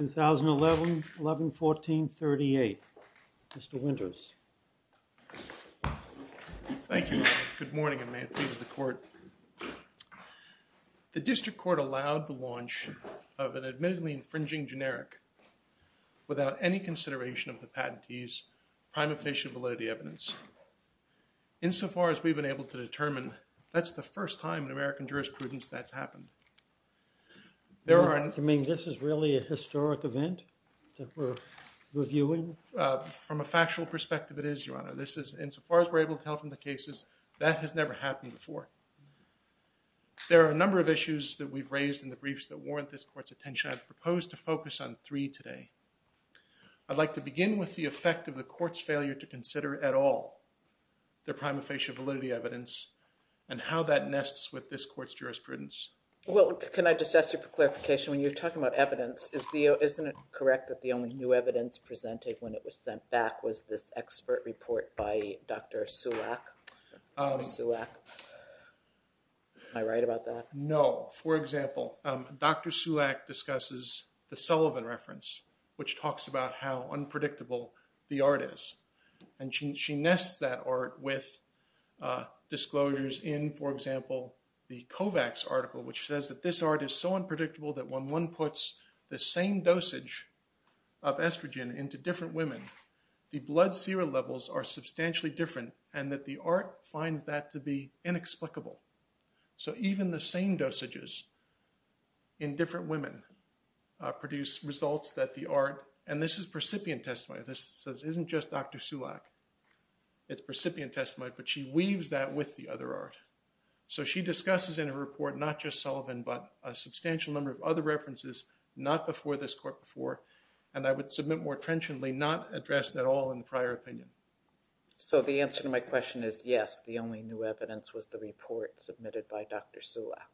2011-11-14-38 Mr. Winters. Thank you. Good morning, and may it please the Court. I'm going to start with a brief introduction of an admittedly infringing generic without any consideration of the patentee's prime official validity evidence. Insofar as we've been able to determine, that's the first time in American jurisprudence that's happened. There are... You mean this is really a historic event that we're reviewing? From a factual perspective, it is, Your Honor. This is, insofar as we're able to tell from the cases, that has never happened before. There are a number of issues that we've raised in the briefs that warrant this Court's attention. I've proposed to focus on three today. I'd like to begin with the effect of the Court's failure to consider at all the prime official validity evidence and how that nests with this Court's jurisprudence. Well, can I just ask you for clarification? When you're talking about evidence, isn't it correct that the only new evidence presented when it was sent back was this expert report by Dr. Sulak? Sulak. Am I right about that? No. For example, Dr. Sulak discusses the Sullivan reference, which talks about how unpredictable the art is. And she nests that art with disclosures in, for example, the Kovacs article, which says that this art is so unpredictable that when one puts the same dosage of estrogen into different women, the blood serum levels are substantially different and that the art finds that to be inexplicable. So even the same dosages in different women produce results that the art, and this is percipient testimony. This isn't just Dr. Sulak. It's percipient testimony, but she weaves that with the other art. So she discusses in her report not just Sullivan, but a substantial number of other references not before this Court before. And I would submit more trenchantly, not addressed at all in the prior opinion. So the answer to my question is, yes, the only new evidence was the report submitted by Dr. Sulak.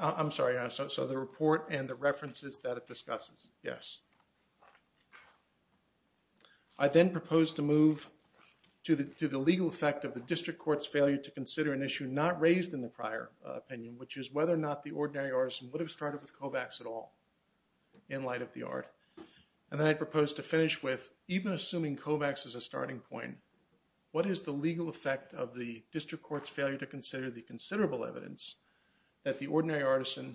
I'm sorry. So the report and the references that it discusses, yes. I then propose to move to the legal effect of the district court's failure to consider an issue not raised in the prior opinion, which is whether or not the ordinary artisan would have started with COVAX at all in light of the art. And then I propose to finish with, even assuming COVAX is a starting point, what is the legal effect of the district court's failure to consider the considerable evidence that the ordinary artisan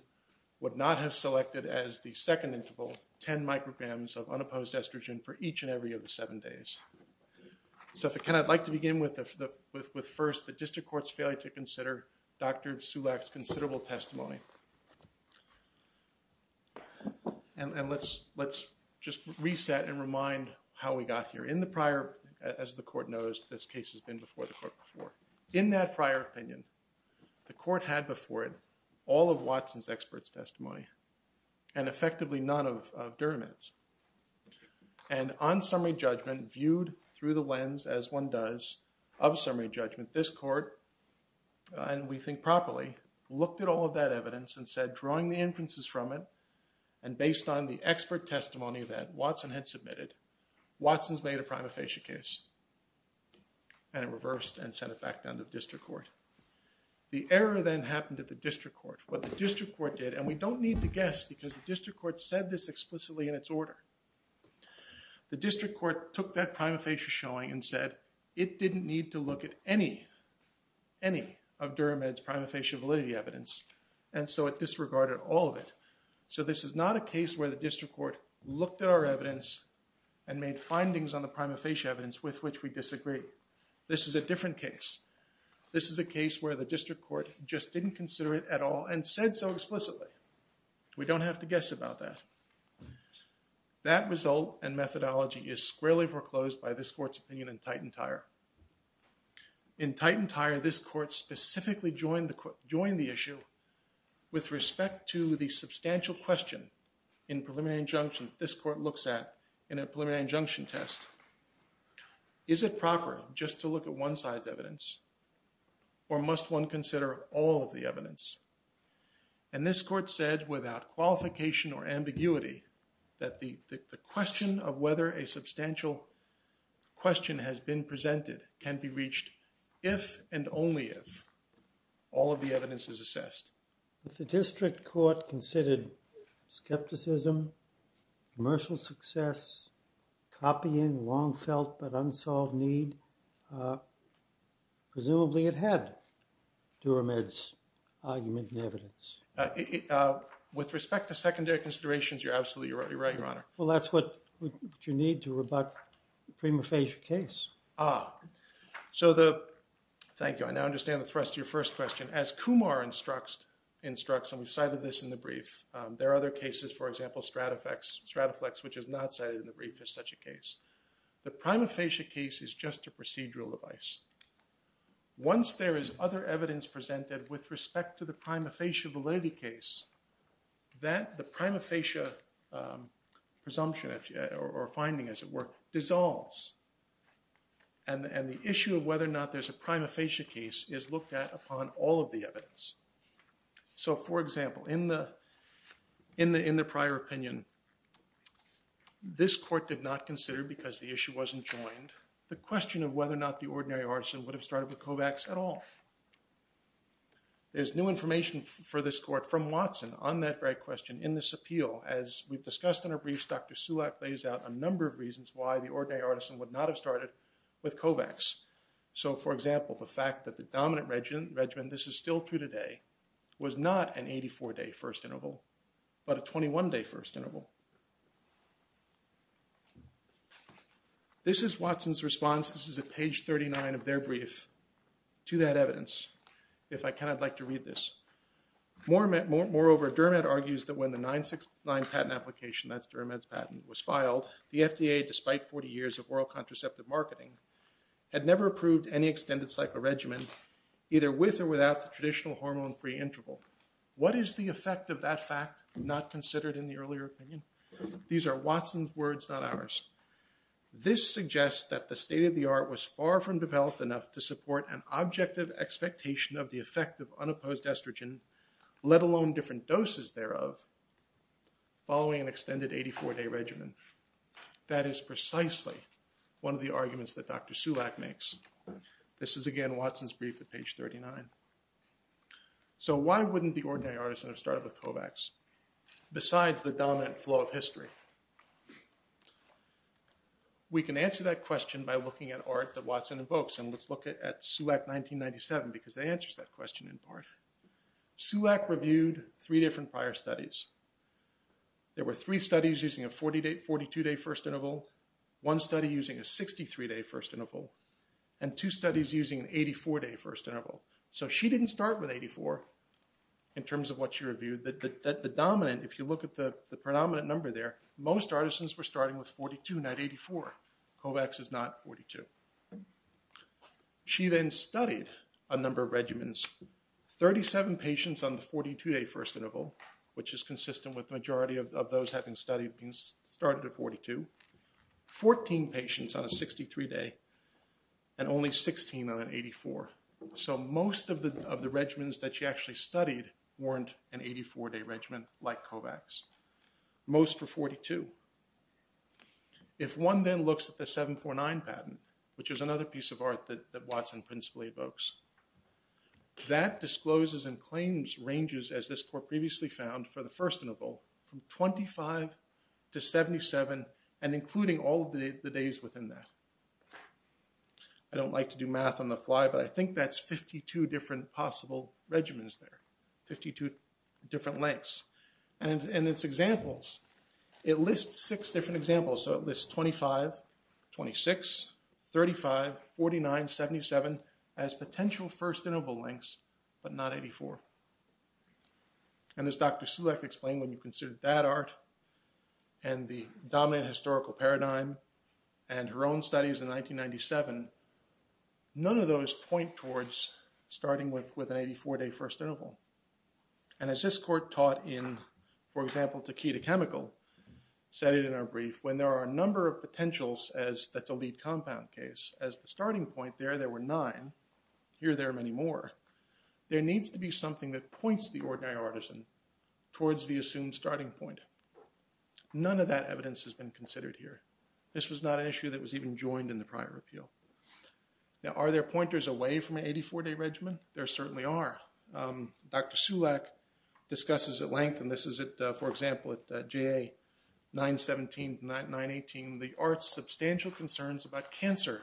would not have selected as the second interval, 10 micrograms of unopposed estrogen for each and every of the seven days. So if I can, I'd like to begin with first the district court's failure to consider Dr. Sulak's And let's just reset and remind how we got here. In the prior, as the court knows, this case has been before the court before. In that prior opinion, the court had before it all of Watson's experts' testimony and effectively none of Dermott's. And on summary judgment, viewed through the lens, as one does, of summary judgment, this the inferences from it. And based on the expert testimony that Watson had submitted, Watson's made a prima facie case. And it reversed and sent it back down to the district court. The error then happened at the district court. What the district court did, and we don't need to guess because the district court said this explicitly in its order. The district court took that prima facie showing and said it didn't need to look at any, any of Dermott's prima facie validity evidence. And so it disregarded all of it. So this is not a case where the district court looked at our evidence and made findings on the prima facie evidence with which we disagree. This is a different case. This is a case where the district court just didn't consider it at all and said so explicitly. We don't have to guess about that. That result and methodology is squarely foreclosed by this court's opinion in Titan-Tyre. In Titan-Tyre, this court specifically joined the issue with respect to the substantial question in preliminary injunction this court looks at in a preliminary injunction test. Is it proper just to look at one side's evidence or must one consider all of the evidence? And this court said without qualification or ambiguity that the question of whether a substantial question has been presented can be reached if and only if all of the evidence is assessed. If the district court considered skepticism, commercial success, copying, long felt but unsolved need, presumably it had Dermott's argument and evidence. With respect to secondary considerations, you're absolutely right, Your Honor. Well, that's what you need to rebut the prima facie case. Ah. So the, thank you, I now understand the thrust of your first question. As Kumar instructs, and we've cited this in the brief, there are other cases, for example, Strataflex, which is not cited in the brief as such a case. The prima facie case is just a procedural device. Once there is other evidence presented with respect to the prima facie validity case, that the prima facie presumption or finding, as it were, dissolves. And the issue of whether or not there's a prima facie case is looked at upon all of the evidence. So for example, in the prior opinion, this court did not consider, because the issue wasn't joined, the question of whether or not the ordinary arson would have started with Kovacs at all. There's new information for this court from Watson on that very question in this appeal. As we've discussed in our briefs, Dr. Sulak lays out a number of reasons why the ordinary arson would not have started with Kovacs. So for example, the fact that the dominant regimen, this is still true today, was not an 84-day first interval, but a 21-day first interval. This is Watson's response. This is at page 39 of their brief to that evidence, if I can, I'd like to read this. Moreover, Dermot argues that when the 969 patent application, that's Dermot's patent, was filed, the FDA, despite 40 years of oral contraceptive marketing, had never approved any extended cycle regimen, either with or without the traditional hormone-free interval. What is the effect of that fact not considered in the earlier opinion? These are Watson's words, not ours. This suggests that the state of the art was far from developed enough to support an objective expectation of the effect of unopposed estrogen, let alone different doses thereof, following an extended 84-day regimen. That is precisely one of the arguments that Dr. Sulak makes. This is again Watson's brief at page 39. So why wouldn't the ordinary artisan have started with Kovacs, besides the dominant flow of history? We can answer that question by looking at art that Watson invokes, and let's look at Sulak 1997, because that answers that question in part. Sulak reviewed three different prior studies. There were three studies using a 42-day first interval, one study using a 63-day first interval, and two studies using an 84-day first interval. So she didn't start with 84, in terms of what she reviewed. The dominant, if you look at the predominant number there, most artisans were starting with 42, not 84. Kovacs is not 42. She then studied a number of regimens, 37 patients on the 42-day first interval, which is consistent with the majority of those having started at 42, 14 patients on a 63-day, and only 16 on an 84. So most of the regimens that she actually studied weren't an 84-day regimen like Kovacs. Most were 42. If one then looks at the 749 patent, which is another piece of art that Watson principally evokes, that discloses and claims ranges, as this court previously found, for the first interval from 25 to 77, and including all of the days within that. I don't like to do math on the fly, but I think that's 52 different possible regimens there, 52 different lengths. And its examples, it lists six different examples. So it lists 25, 26, 35, 49, 77, as potential first interval lengths, but not 84. And as Dr. Sulek explained, when you consider that art, and the dominant historical paradigm, and her own studies in 1997, none of those point towards starting with an 84-day first interval. And as this court taught in, for example, Takeda Chemical, said it in our brief, when there are a number of potentials, as that's a lead compound case, as the starting point there, there were nine, here there are many more, there needs to be something that points the ordinary artisan towards the assumed starting point. None of that evidence has been considered here. This was not an issue that was even joined in the prior appeal. Now, are there pointers away from an 84-day regimen? There certainly are. Dr. Sulek discusses at length, and this is, for example, at JA 917 to 918, the art's substantial concerns about cancer,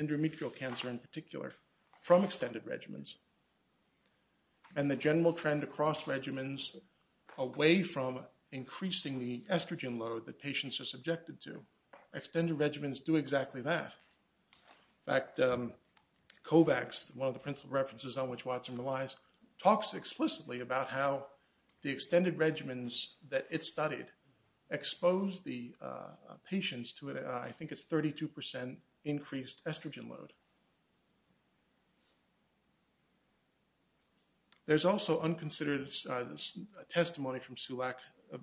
endometrial cancer in particular, from extended regimens, and the general trend across regimens away from increasing the estrogen load that patients are subjected to. Extended regimens do exactly that. In fact, Kovacs, one of the principal references on which Watson relies, talks explicitly about how the extended regimens that it studied exposed the patients to, I think it's 32 percent increased estrogen load. There's also unconsidered testimony from Sulek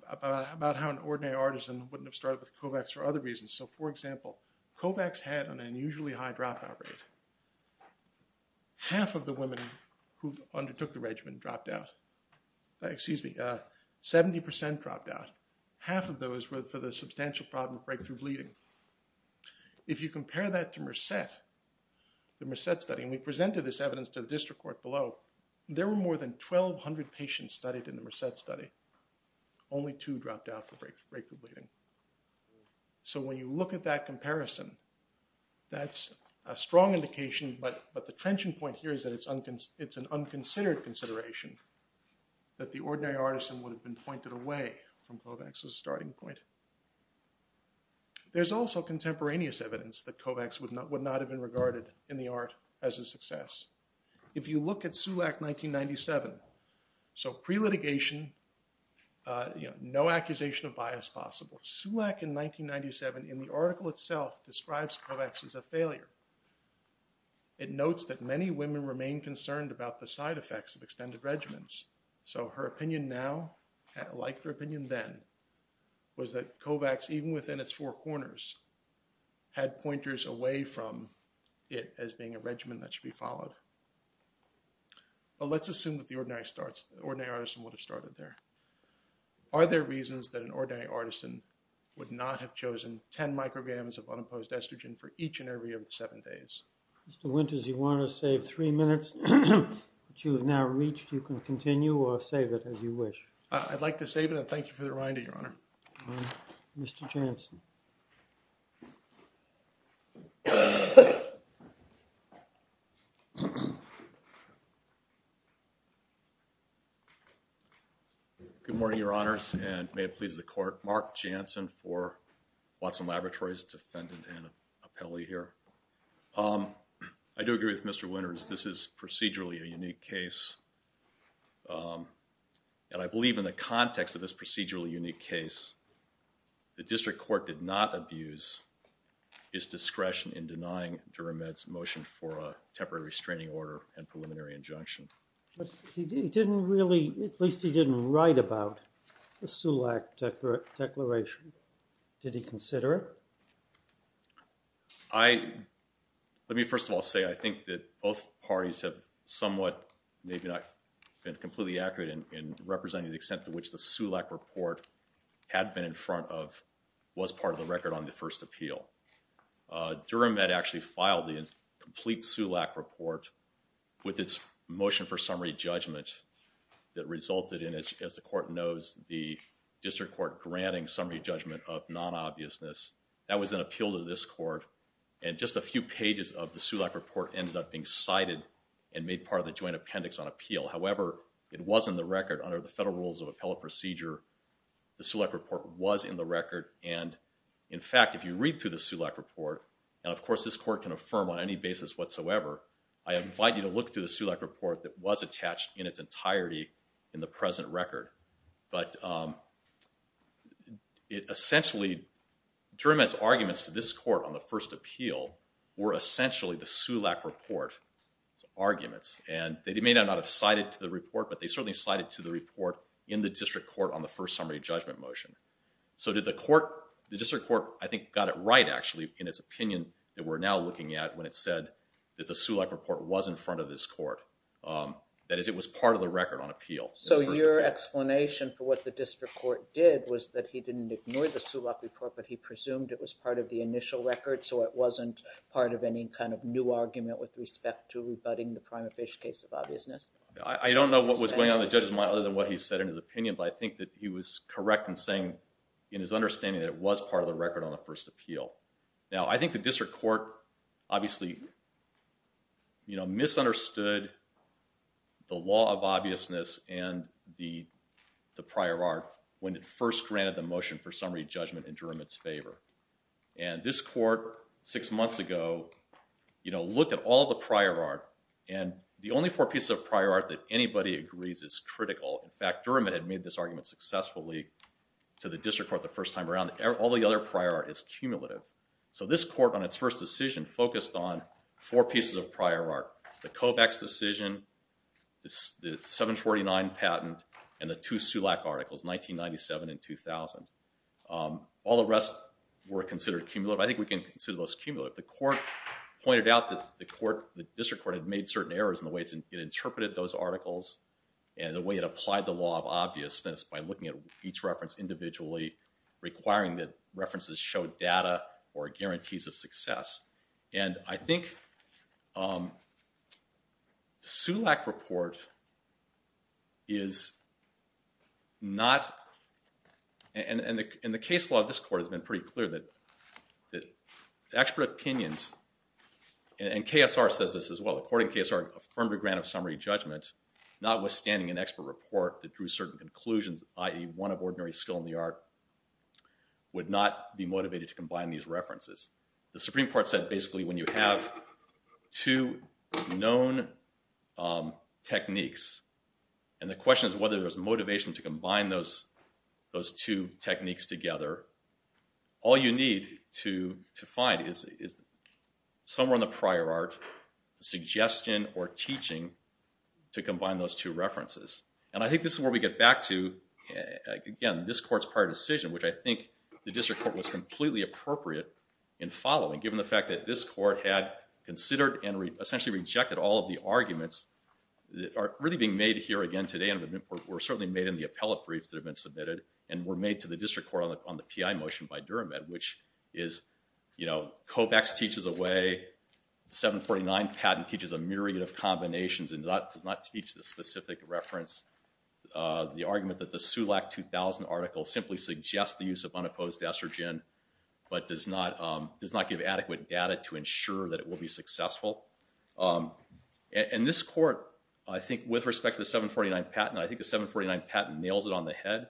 about how an ordinary artisan wouldn't have started with Kovacs for other reasons. So, for example, Kovacs had an unusually high dropout rate. Half of the women who undertook the regimen dropped out, excuse me, 70 percent dropped out. Half of those were for the substantial problem of breakthrough bleeding. If you compare that to Mercet, the Mercet study, and we presented this evidence to the district court below, there were more than 1,200 patients studied in the Mercet study. Only two dropped out for breakthrough bleeding. So when you look at that comparison, that's a strong indication, but the trenching point here is that it's an unconsidered consideration that the ordinary artisan would have been pointed away from Kovacs' starting point. There's also contemporaneous evidence that Kovacs would not have been regarded in the art as a success. If you look at Sulek 1997, so pre-litigation, you know, no accusation of bias possible. Sulek in 1997, in the article itself, describes Kovacs as a failure. It notes that many women remain concerned about the side effects of extended regimens. So her opinion now, like her opinion then, was that Kovacs, even within its four corners, had pointers away from it as being a regimen that should be followed. But let's assume that the ordinary artisan would have started there. Are there reasons that an ordinary artisan would not have chosen 10 micrograms of unopposed estrogen for each and every of the seven days? Mr. Winters, you want to save three minutes, which you have now reached. You can continue or save it as you wish. I'd like to save it, and thank you for the reminder, Your Honor. Mr. Jansen. Good morning, Your Honors, and may it please the Court. Mark Jansen for Watson Laboratories, defendant and appellee here. I do agree with Mr. Winters. This is procedurally a unique case, and I believe in the context of this procedurally unique case, the district court did not abuse his discretion in denying Duramed's motion for a temporary restraining order and preliminary injunction. But he didn't really, at least he didn't write about the SULAC declaration. Did he consider it? I, let me first of all say, I think that both parties have somewhat, maybe not been completely accurate in representing the extent to which the SULAC report had been in front of, was part of the record on the first appeal. Duramed actually filed the complete SULAC report with its motion for summary judgment that resulted in, as the Court knows, the district court granting summary judgment of non-obviousness. That was an appeal to this Court, and just a few pages of the SULAC report ended up being cited and made part of the joint appendix on appeal. However, it was in the record under the federal rules of appellate procedure. The SULAC report was in the record, and in fact, if you read through the SULAC report, and of course this Court can affirm on any basis whatsoever, I invite you to look through the SULAC report that was attached in its entirety in the present record. But it essentially, Duramed's arguments to this Court on the first appeal were essentially the SULAC report arguments. And they may not have cited to the report, but they certainly cited to the report in the district court on the first summary judgment motion. So did the court, the district court, I think got it right, actually, in its opinion, that we're now looking at when it said that the SULAC report was in front of this Court. That is, it was part of the record on appeal. So your explanation for what the district court did was that he didn't ignore the SULAC report, but he presumed it was part of the initial record, so it wasn't part of any kind of new argument with respect to rebutting the prime official case of obviousness? I don't know what was going on in the judge's mind other than what he said in his opinion, but I think that he was correct in saying, in his understanding, that it was part of the record on the first appeal. Now, I think the district court, obviously, you know, misunderstood the law of obviousness and the prior art when it first granted the motion for summary judgment in Duramed's favor. And this court, six months ago, you know, looked at all the prior art, and the only four pieces of prior art that anybody agrees is critical. In fact, Duramed had made this argument successfully to the district court the first time around. All the other prior art is cumulative. So this court, on its first decision, focused on four pieces of prior art. The COVEX decision, the 749 patent, and the two SULAC articles, 1997 and 2000. All the rest were considered cumulative. I think we can consider those cumulative. The court pointed out that the district court had made certain errors in the way it interpreted those articles and the way it applied the law of obviousness by looking at each reference individually, requiring that references show data or guarantees of success. And I think SULAC report is not, and the case law of this court has been pretty clear that expert opinions, and KSR says this as well, according to KSR, affirmed a grant of summary judgment, notwithstanding an expert report that drew certain conclusions, i.e. one of ordinary skill in the art, would not be motivated to combine these references. The Supreme Court said, basically, when you have two known techniques, and the question is whether there's motivation to combine those two techniques together, all you need to find is somewhere in the prior art suggestion or teaching to combine those two references. And I think this is where we get back to, again, this court's prior decision, which I think the district court was completely appropriate in following, given the fact that this court had considered and essentially rejected all of the arguments that are really being made here again today and were certainly made in the appellate briefs that have been submitted and were made to the district court on the PI motion by Duramed, which is, you know, COPEX teaches a way, 749 patent teaches a myriad of combinations and does not teach the specific reference, the argument that the SULAC 2000 article simply suggests the use of unopposed estrogen, but does not give adequate data to ensure that it will be successful. And this court, I think, with respect to the 749 patent, I think the 749 patent nails it on the head.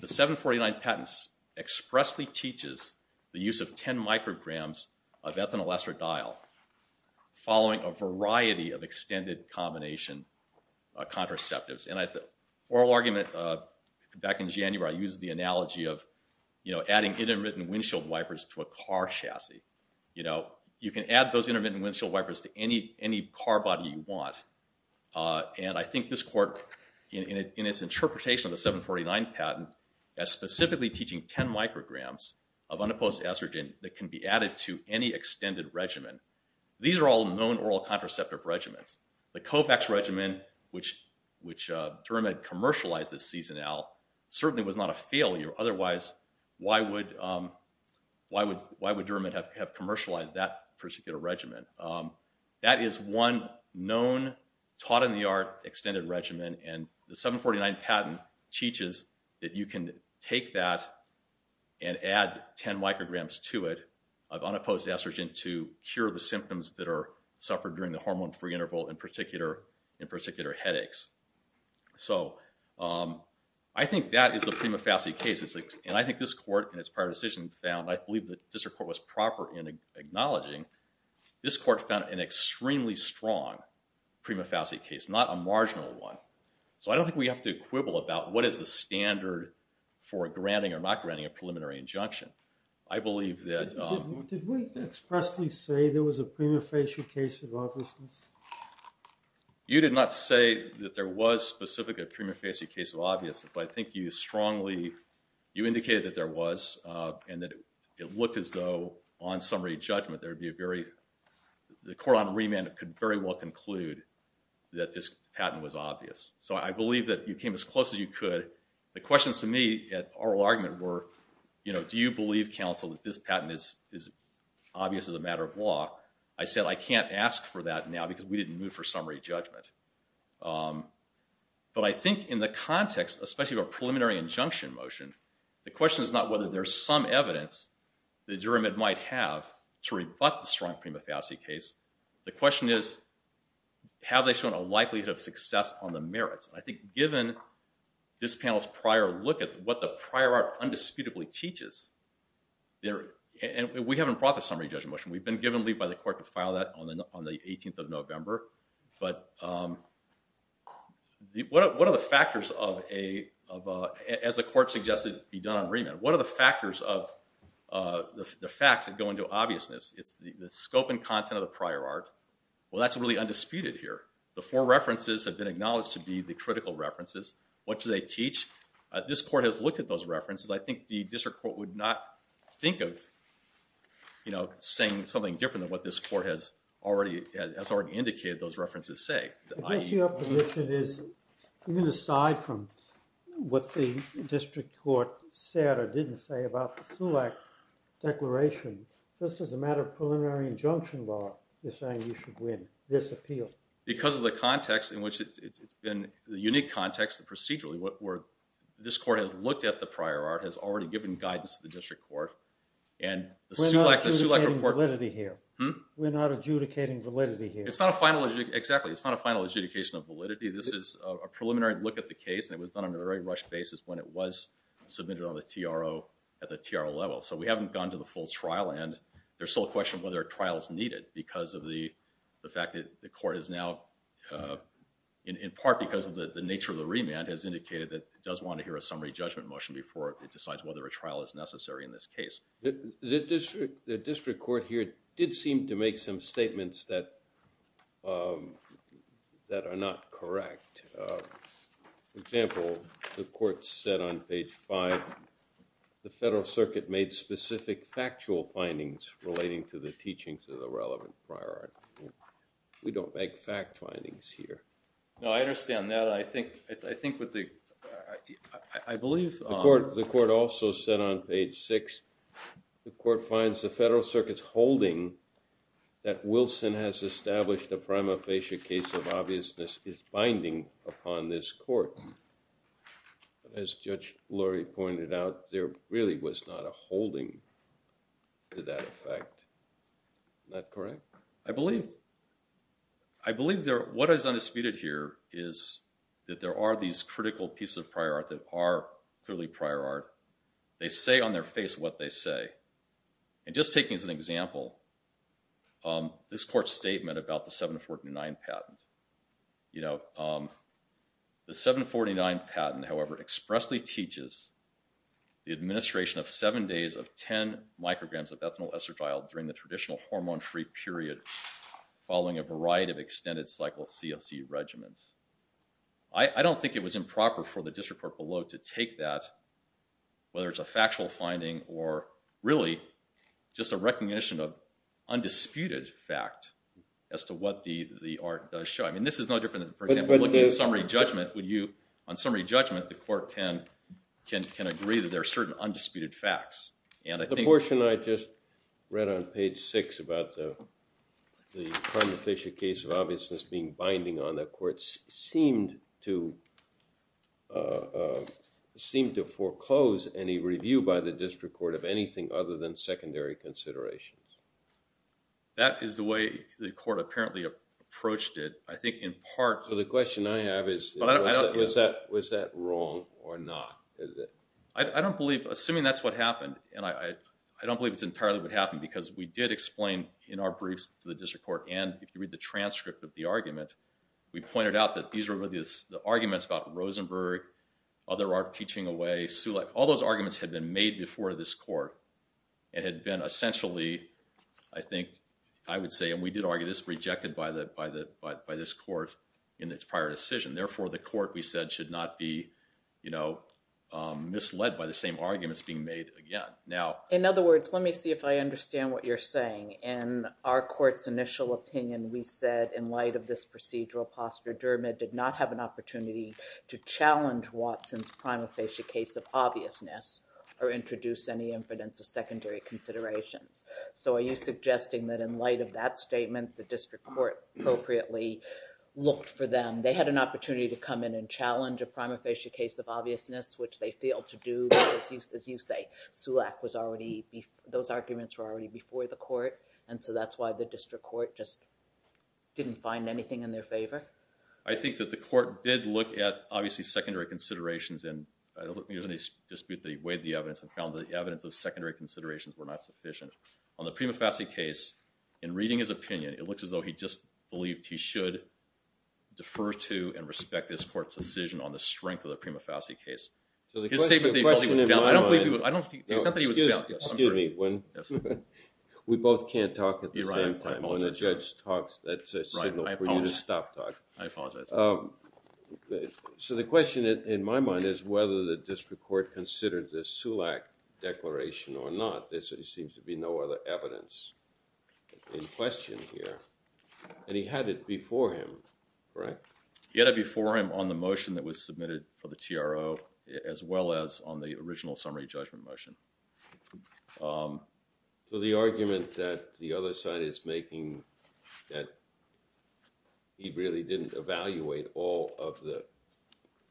The 749 patent expressly teaches the use of 10 micrograms of ethanol estradiol following a variety of extended combination contraceptives. And at the oral argument back in January, I used the analogy of, you know, adding intermittent windshield wipers to a car chassis. You know, you can add those intermittent windshield wipers to any car body you want. And I think this court in its interpretation of the 749 patent as specifically teaching 10 micrograms of unopposed estrogen that can be added to any extended regimen. These are all known oral contraceptive regimens. The COPEX regimen, which Duramed commercialized this season now, certainly was not a failure. Otherwise, why would Duramed have commercialized that particular regimen? That is one known, taught-in-the-art extended regimen. And the 749 patent teaches that you can take that and add 10 micrograms to it of unopposed estrogen to cure the symptoms that are suffered during the hormone-free interval, in particular headaches. So, I think that is the prima facie case. And I think this court in its prior decision found, I believe the district court was proper in acknowledging, this court found an extremely strong prima facie case, not a marginal one. So, I don't think we have to quibble about what is the standard for granting or not granting a preliminary injunction. I believe that... Did we expressly say there was a prima facie case of obviousness? You did not say that there was specifically a prima facie case of obviousness, but I think you strongly, you indicated that there was and that it looked as though on summary judgment there would be a very... The court on remand could very well conclude that this patent was obvious. So, I believe that you came as close as you could. The questions to me at oral argument were, you know, do you believe, counsel, that this patent is obvious as a matter of law? I said, I can't ask for that now because we didn't move for summary judgment. But I think in the context, especially of a preliminary injunction motion, the question is not whether there's some evidence that jury might have to rebut the strong prima facie case. The question is, have they shown a likelihood of success on the merits? I think given this panel's prior look at what the prior art undisputably teaches, and we haven't brought the summary judgment motion, we've been given leave by the court to file that on the 18th of November, but what are the factors of a... As the court suggested be done on remand, what are the factors of the facts that go into obviousness? It's the scope and content of the prior art. Well, that's really undisputed here. The four references have been acknowledged to be the critical references. What do they teach? This court has looked at those references. I think the district court would not think of, you know, saying something different than what this court has already indicated those references say. I guess your position is, even aside from what the district court said or didn't say about the SULAC declaration, just as a matter of preliminary injunction law, you're saying you should win this appeal. Because of the context in which it's been, the unique context procedurally where this court has looked at the prior art, has already given guidance to the district court, and the SULAC report... We're not adjudicating validity here. We're not adjudicating validity here. It's not a final... Exactly. It's not a final adjudication of validity. This is a preliminary look at the case. And it was done on a very rushed basis when it was submitted on the TRO at the TRO level. So we haven't gone to the full trial. And there's still a question of whether a trial is needed because of the fact that the court is now, in part because of the nature of the remand, has indicated that it does want to hear a summary judgment motion before it decides whether a trial is necessary in this case. The district court here did seem to make some statements that are not correct. For example, the court said on page five, the federal circuit made specific factual findings relating to the teachings of the relevant prior art. We don't make fact findings here. No, I understand that. I think with the... I believe... The court also said on page six, the court finds the federal circuit's holding that Wilson has established a prima facie case of obviousness is binding upon this court. As Judge Lurie pointed out, there really was not a holding to that effect. Is that correct? I believe. I believe what is undisputed here is that there are these critical pieces of prior art that are clearly prior art. They say on their face what they say. And just taking as an example, this court's statement about the 749 patent. You know, the 749 patent, however, expressly teaches the administration of seven days of 10 micrograms of ethanol essergyl during the traditional hormone-free period following a variety of extended cycle CLC regimens. I don't think it was improper for the district court below to take that, whether it's a factual finding or really just a recognition of undisputed fact as to what the art does show. I mean, this is no different than, for example, looking at summary judgment. On summary judgment, the court can agree that there are certain undisputed facts. The portion I just read on page six about the prima facie case of obviousness being binding on the court seemed to... seemed to foreclose any review by the district court of anything other than secondary considerations. That is the way the court apparently approached it. I think in part... So the question I have is, was that wrong or not? I don't believe, assuming that's what happened, and I don't believe it's entirely what happened because we did explain in our briefs to the district court, and if you read the transcript of the argument, we pointed out that these were really the arguments about Rosenberg, other art teaching away, Sulek. All those arguments had been made before this court and had been essentially, I think, I would say, and we did argue this, rejected by this court in its prior decision. Therefore, the court, we said, should not be, you know, misled by the same arguments being made again. Now... In other words, let me see if I understand what you're saying. In our court's initial opinion, we said in light of this procedural posture, Dermot did not have an opportunity to challenge Watson's prima facie case of obviousness or introduce any evidence of secondary considerations. So are you suggesting that in light of that statement, the district court appropriately looked for them? And they had an opportunity to come in and challenge a prima facie case of obviousness, which they failed to do because, as you say, Sulek was already... those arguments were already before the court, and so that's why the district court just didn't find anything in their favor? I think that the court did look at, obviously, secondary considerations, and I don't think there's any dispute that he weighed the evidence and found that the evidence of secondary considerations were not sufficient. On the prima facie case, in reading his opinion, it looks as though he just believed he should defer to and respect this court's decision on the strength of the prima facie case. His statement that he felt he was... I don't believe he was... Excuse me. We both can't talk at the same time. When a judge talks, that's a signal for you to stop talking. I apologize. So the question in my mind is whether the district court considered this Sulek declaration or not. Without this, there seems to be no other evidence in question here, and he had it before him, correct? He had it before him on the motion that was submitted for the TRO as well as on the original summary judgment motion. So the argument that the other side is making that he really didn't evaluate all of the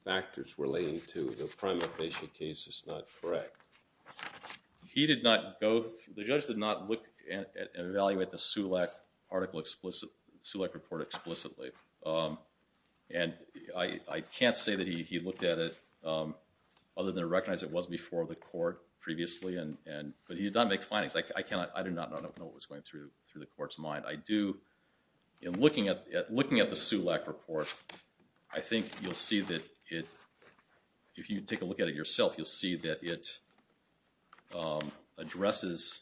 factors relating to the prima facie case is not correct. He did not go... the judge did not look and evaluate the Sulek article explicit... Sulek report explicitly, and I can't say that he looked at it other than to recognize it was before the court previously, but he did not make findings. I cannot... I do not know what was going through the court's mind. I do... in looking at the Sulek report, I think you'll see that it... if you take a look at it yourself, you'll see that it addresses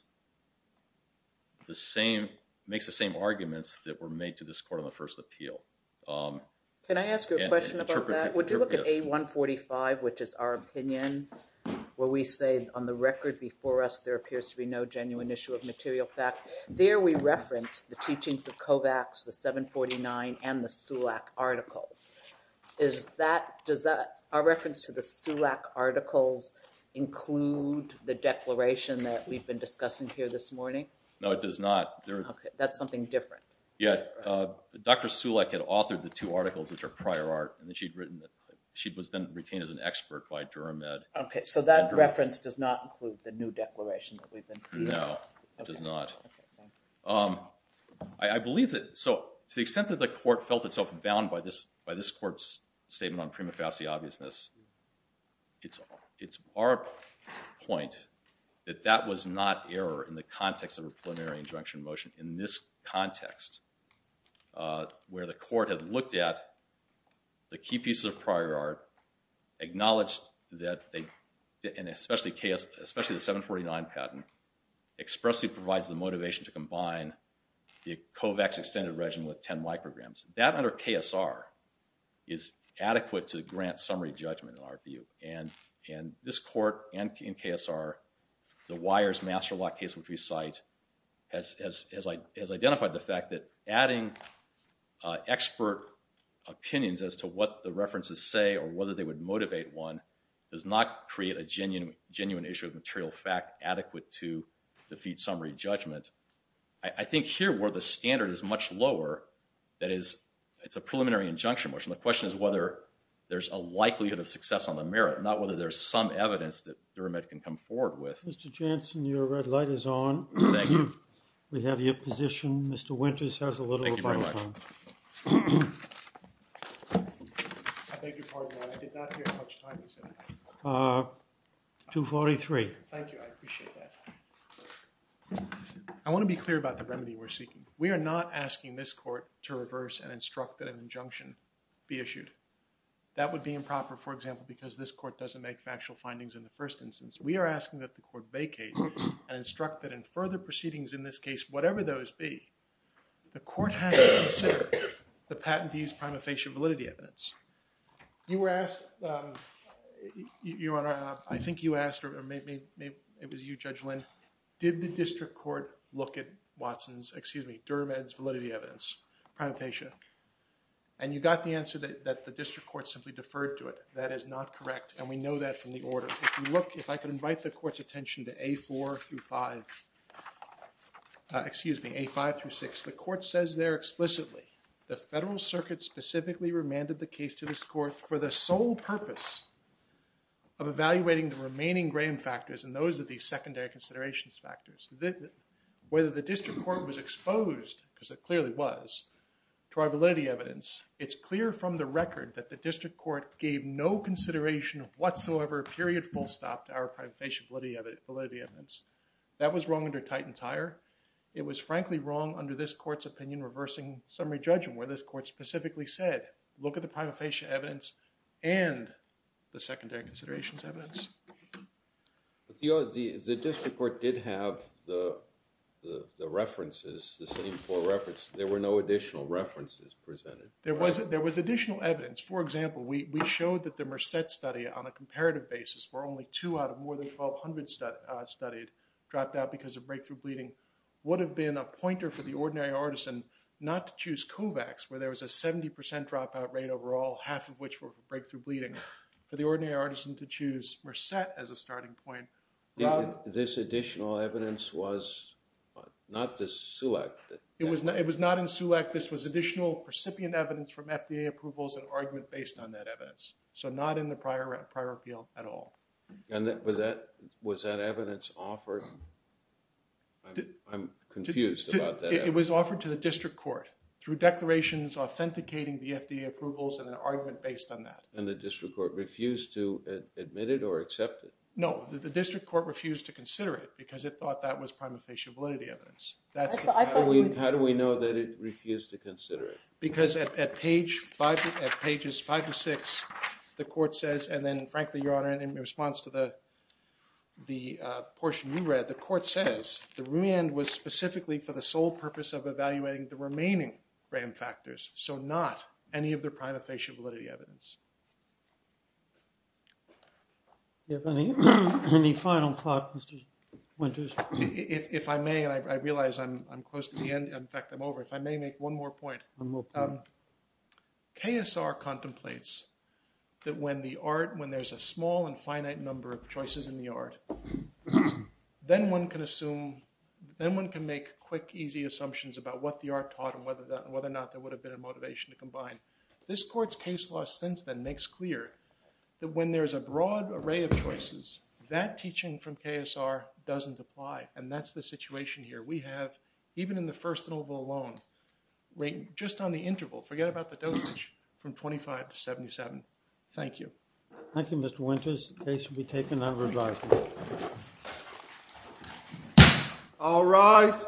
the same... makes the same arguments that were made to this court on the first appeal. Can I ask you a question about that? Would you look at A145, which is our opinion, where we say on the record before us there appears to be no genuine issue of material fact? There we reference the teachings of Kovacs, the 749, and the Sulek articles. Is that... does that... our reference to the Sulek articles include the declaration that we've been discussing here this morning? No, it does not. Okay, that's something different. Yeah, Dr. Sulek had authored the two articles, which are prior art, and then she'd written... she was then retained as an expert by Durham Med. Okay, so that reference does not include the new declaration that we've been... No, it does not. Okay, fine. I believe that... so to the extent that the court felt itself bound by this court's statement on prima facie obviousness, it's our point that that was not error in the context of a preliminary injunction motion. In this context, where the court had looked at the key pieces of prior art, acknowledged that they... and especially the 749 patent, expressly provides the motivation to combine the Kovacs extended regimen with 10 micrograms. That under KSR is adequate to grant summary judgment, in our view. And this court, and in KSR, the Weyers Master Lock case, which we cite, has identified the fact that adding expert opinions as to what the references say, or whether they would motivate one, does not create a genuine issue of material fact adequate to defeat summary judgment. I think here, where the standard is much lower, that is, it's a preliminary injunction motion. The question is whether there's a likelihood of success on the merit, not whether there's some evidence that Durham Med can come forward with. Mr. Jansen, your red light is on. Thank you. We have your position. Mr. Winters has a little of our time. Thank you very much. I beg your pardon, I did not hear how much time you said. Uh, 2.43. Thank you, I appreciate that. I want to be clear about the remedy we're seeking. We are not asking this court to reverse and instruct that an injunction be issued. That would be improper, for example, because this court doesn't make factual findings in the first instance. We are asking that the court vacate and instruct that in further proceedings in this case, whatever those be, the court has to consider the patentee's prima facie validity evidence. You were asked, um, Your Honor, I think you asked, or maybe it was you, Judge Lynn, did the district court look at Watson's, excuse me, Durham Med's validity evidence, prima facie, and you got the answer that the district court simply deferred to it. That is not correct, and we know that from the order. If you look, if I could invite the court's attention to A4 through 5, excuse me, A5 through 6, the court says there explicitly, the federal circuit specifically remanded the case to this court for the sole purpose of evaluating the remaining Graham factors, and those are the secondary considerations factors. Whether the district court was exposed, because it clearly was, to our validity evidence, it's clear from the record that the district court gave no consideration whatsoever, period, full stop to our prima facie validity evidence. That was wrong under Titan-Tyre. It was frankly wrong under this court's opinion reversing summary judgment, where this court specifically said, look at the prima facie evidence and the secondary considerations evidence. The district court did have the references, the same four references. There were no additional references presented. There was additional evidence. For example, we showed that the Merced study on a comparative basis, where only two out of more than 1,200 studied dropped out because of breakthrough bleeding, would have been a pointer for the ordinary artisan not to choose COVAX, where there was a 70% dropout rate overall, half of which were from breakthrough bleeding, for the ordinary artisan to choose Merced as a starting point. This additional evidence was not the select. It was not in SEWAC. This was additional recipient evidence from FDA approvals and argument based on that evidence. So not in the prior appeal at all. Was that evidence offered? I'm confused about that. It was offered to the district court through declarations authenticating the FDA approvals and an argument based on that. And the district court refused to admit it or accept it? No. The district court refused to consider it because it thought that was prima facie validity evidence. How do we know that it refused to consider it? Because at pages five to six, the court says, and then frankly, Your Honor, in response to the portion you read, the court says the remand was specifically for the sole purpose of evaluating the remaining RAM factors, so not any of the prima facie validity evidence. Do you have any final thought, Mr. Winters? If I may, and I realize I'm close to the end. In fact, I'm over. If I may make one more point. KSR contemplates that when there's a small and finite number of choices in the art, then one can make quick, easy assumptions about what the art taught and whether or not there would have been a motivation to combine. This court's case law since then makes clear that when there's a broad array of choices, that teaching from KSR doesn't apply, and that's the situation here. We have, even in the first interval alone, just on the interval, forget about the dosage, from 25 to 77. Thank you. Thank you, Mr. Winters. The case will be taken under adjustment. All rise.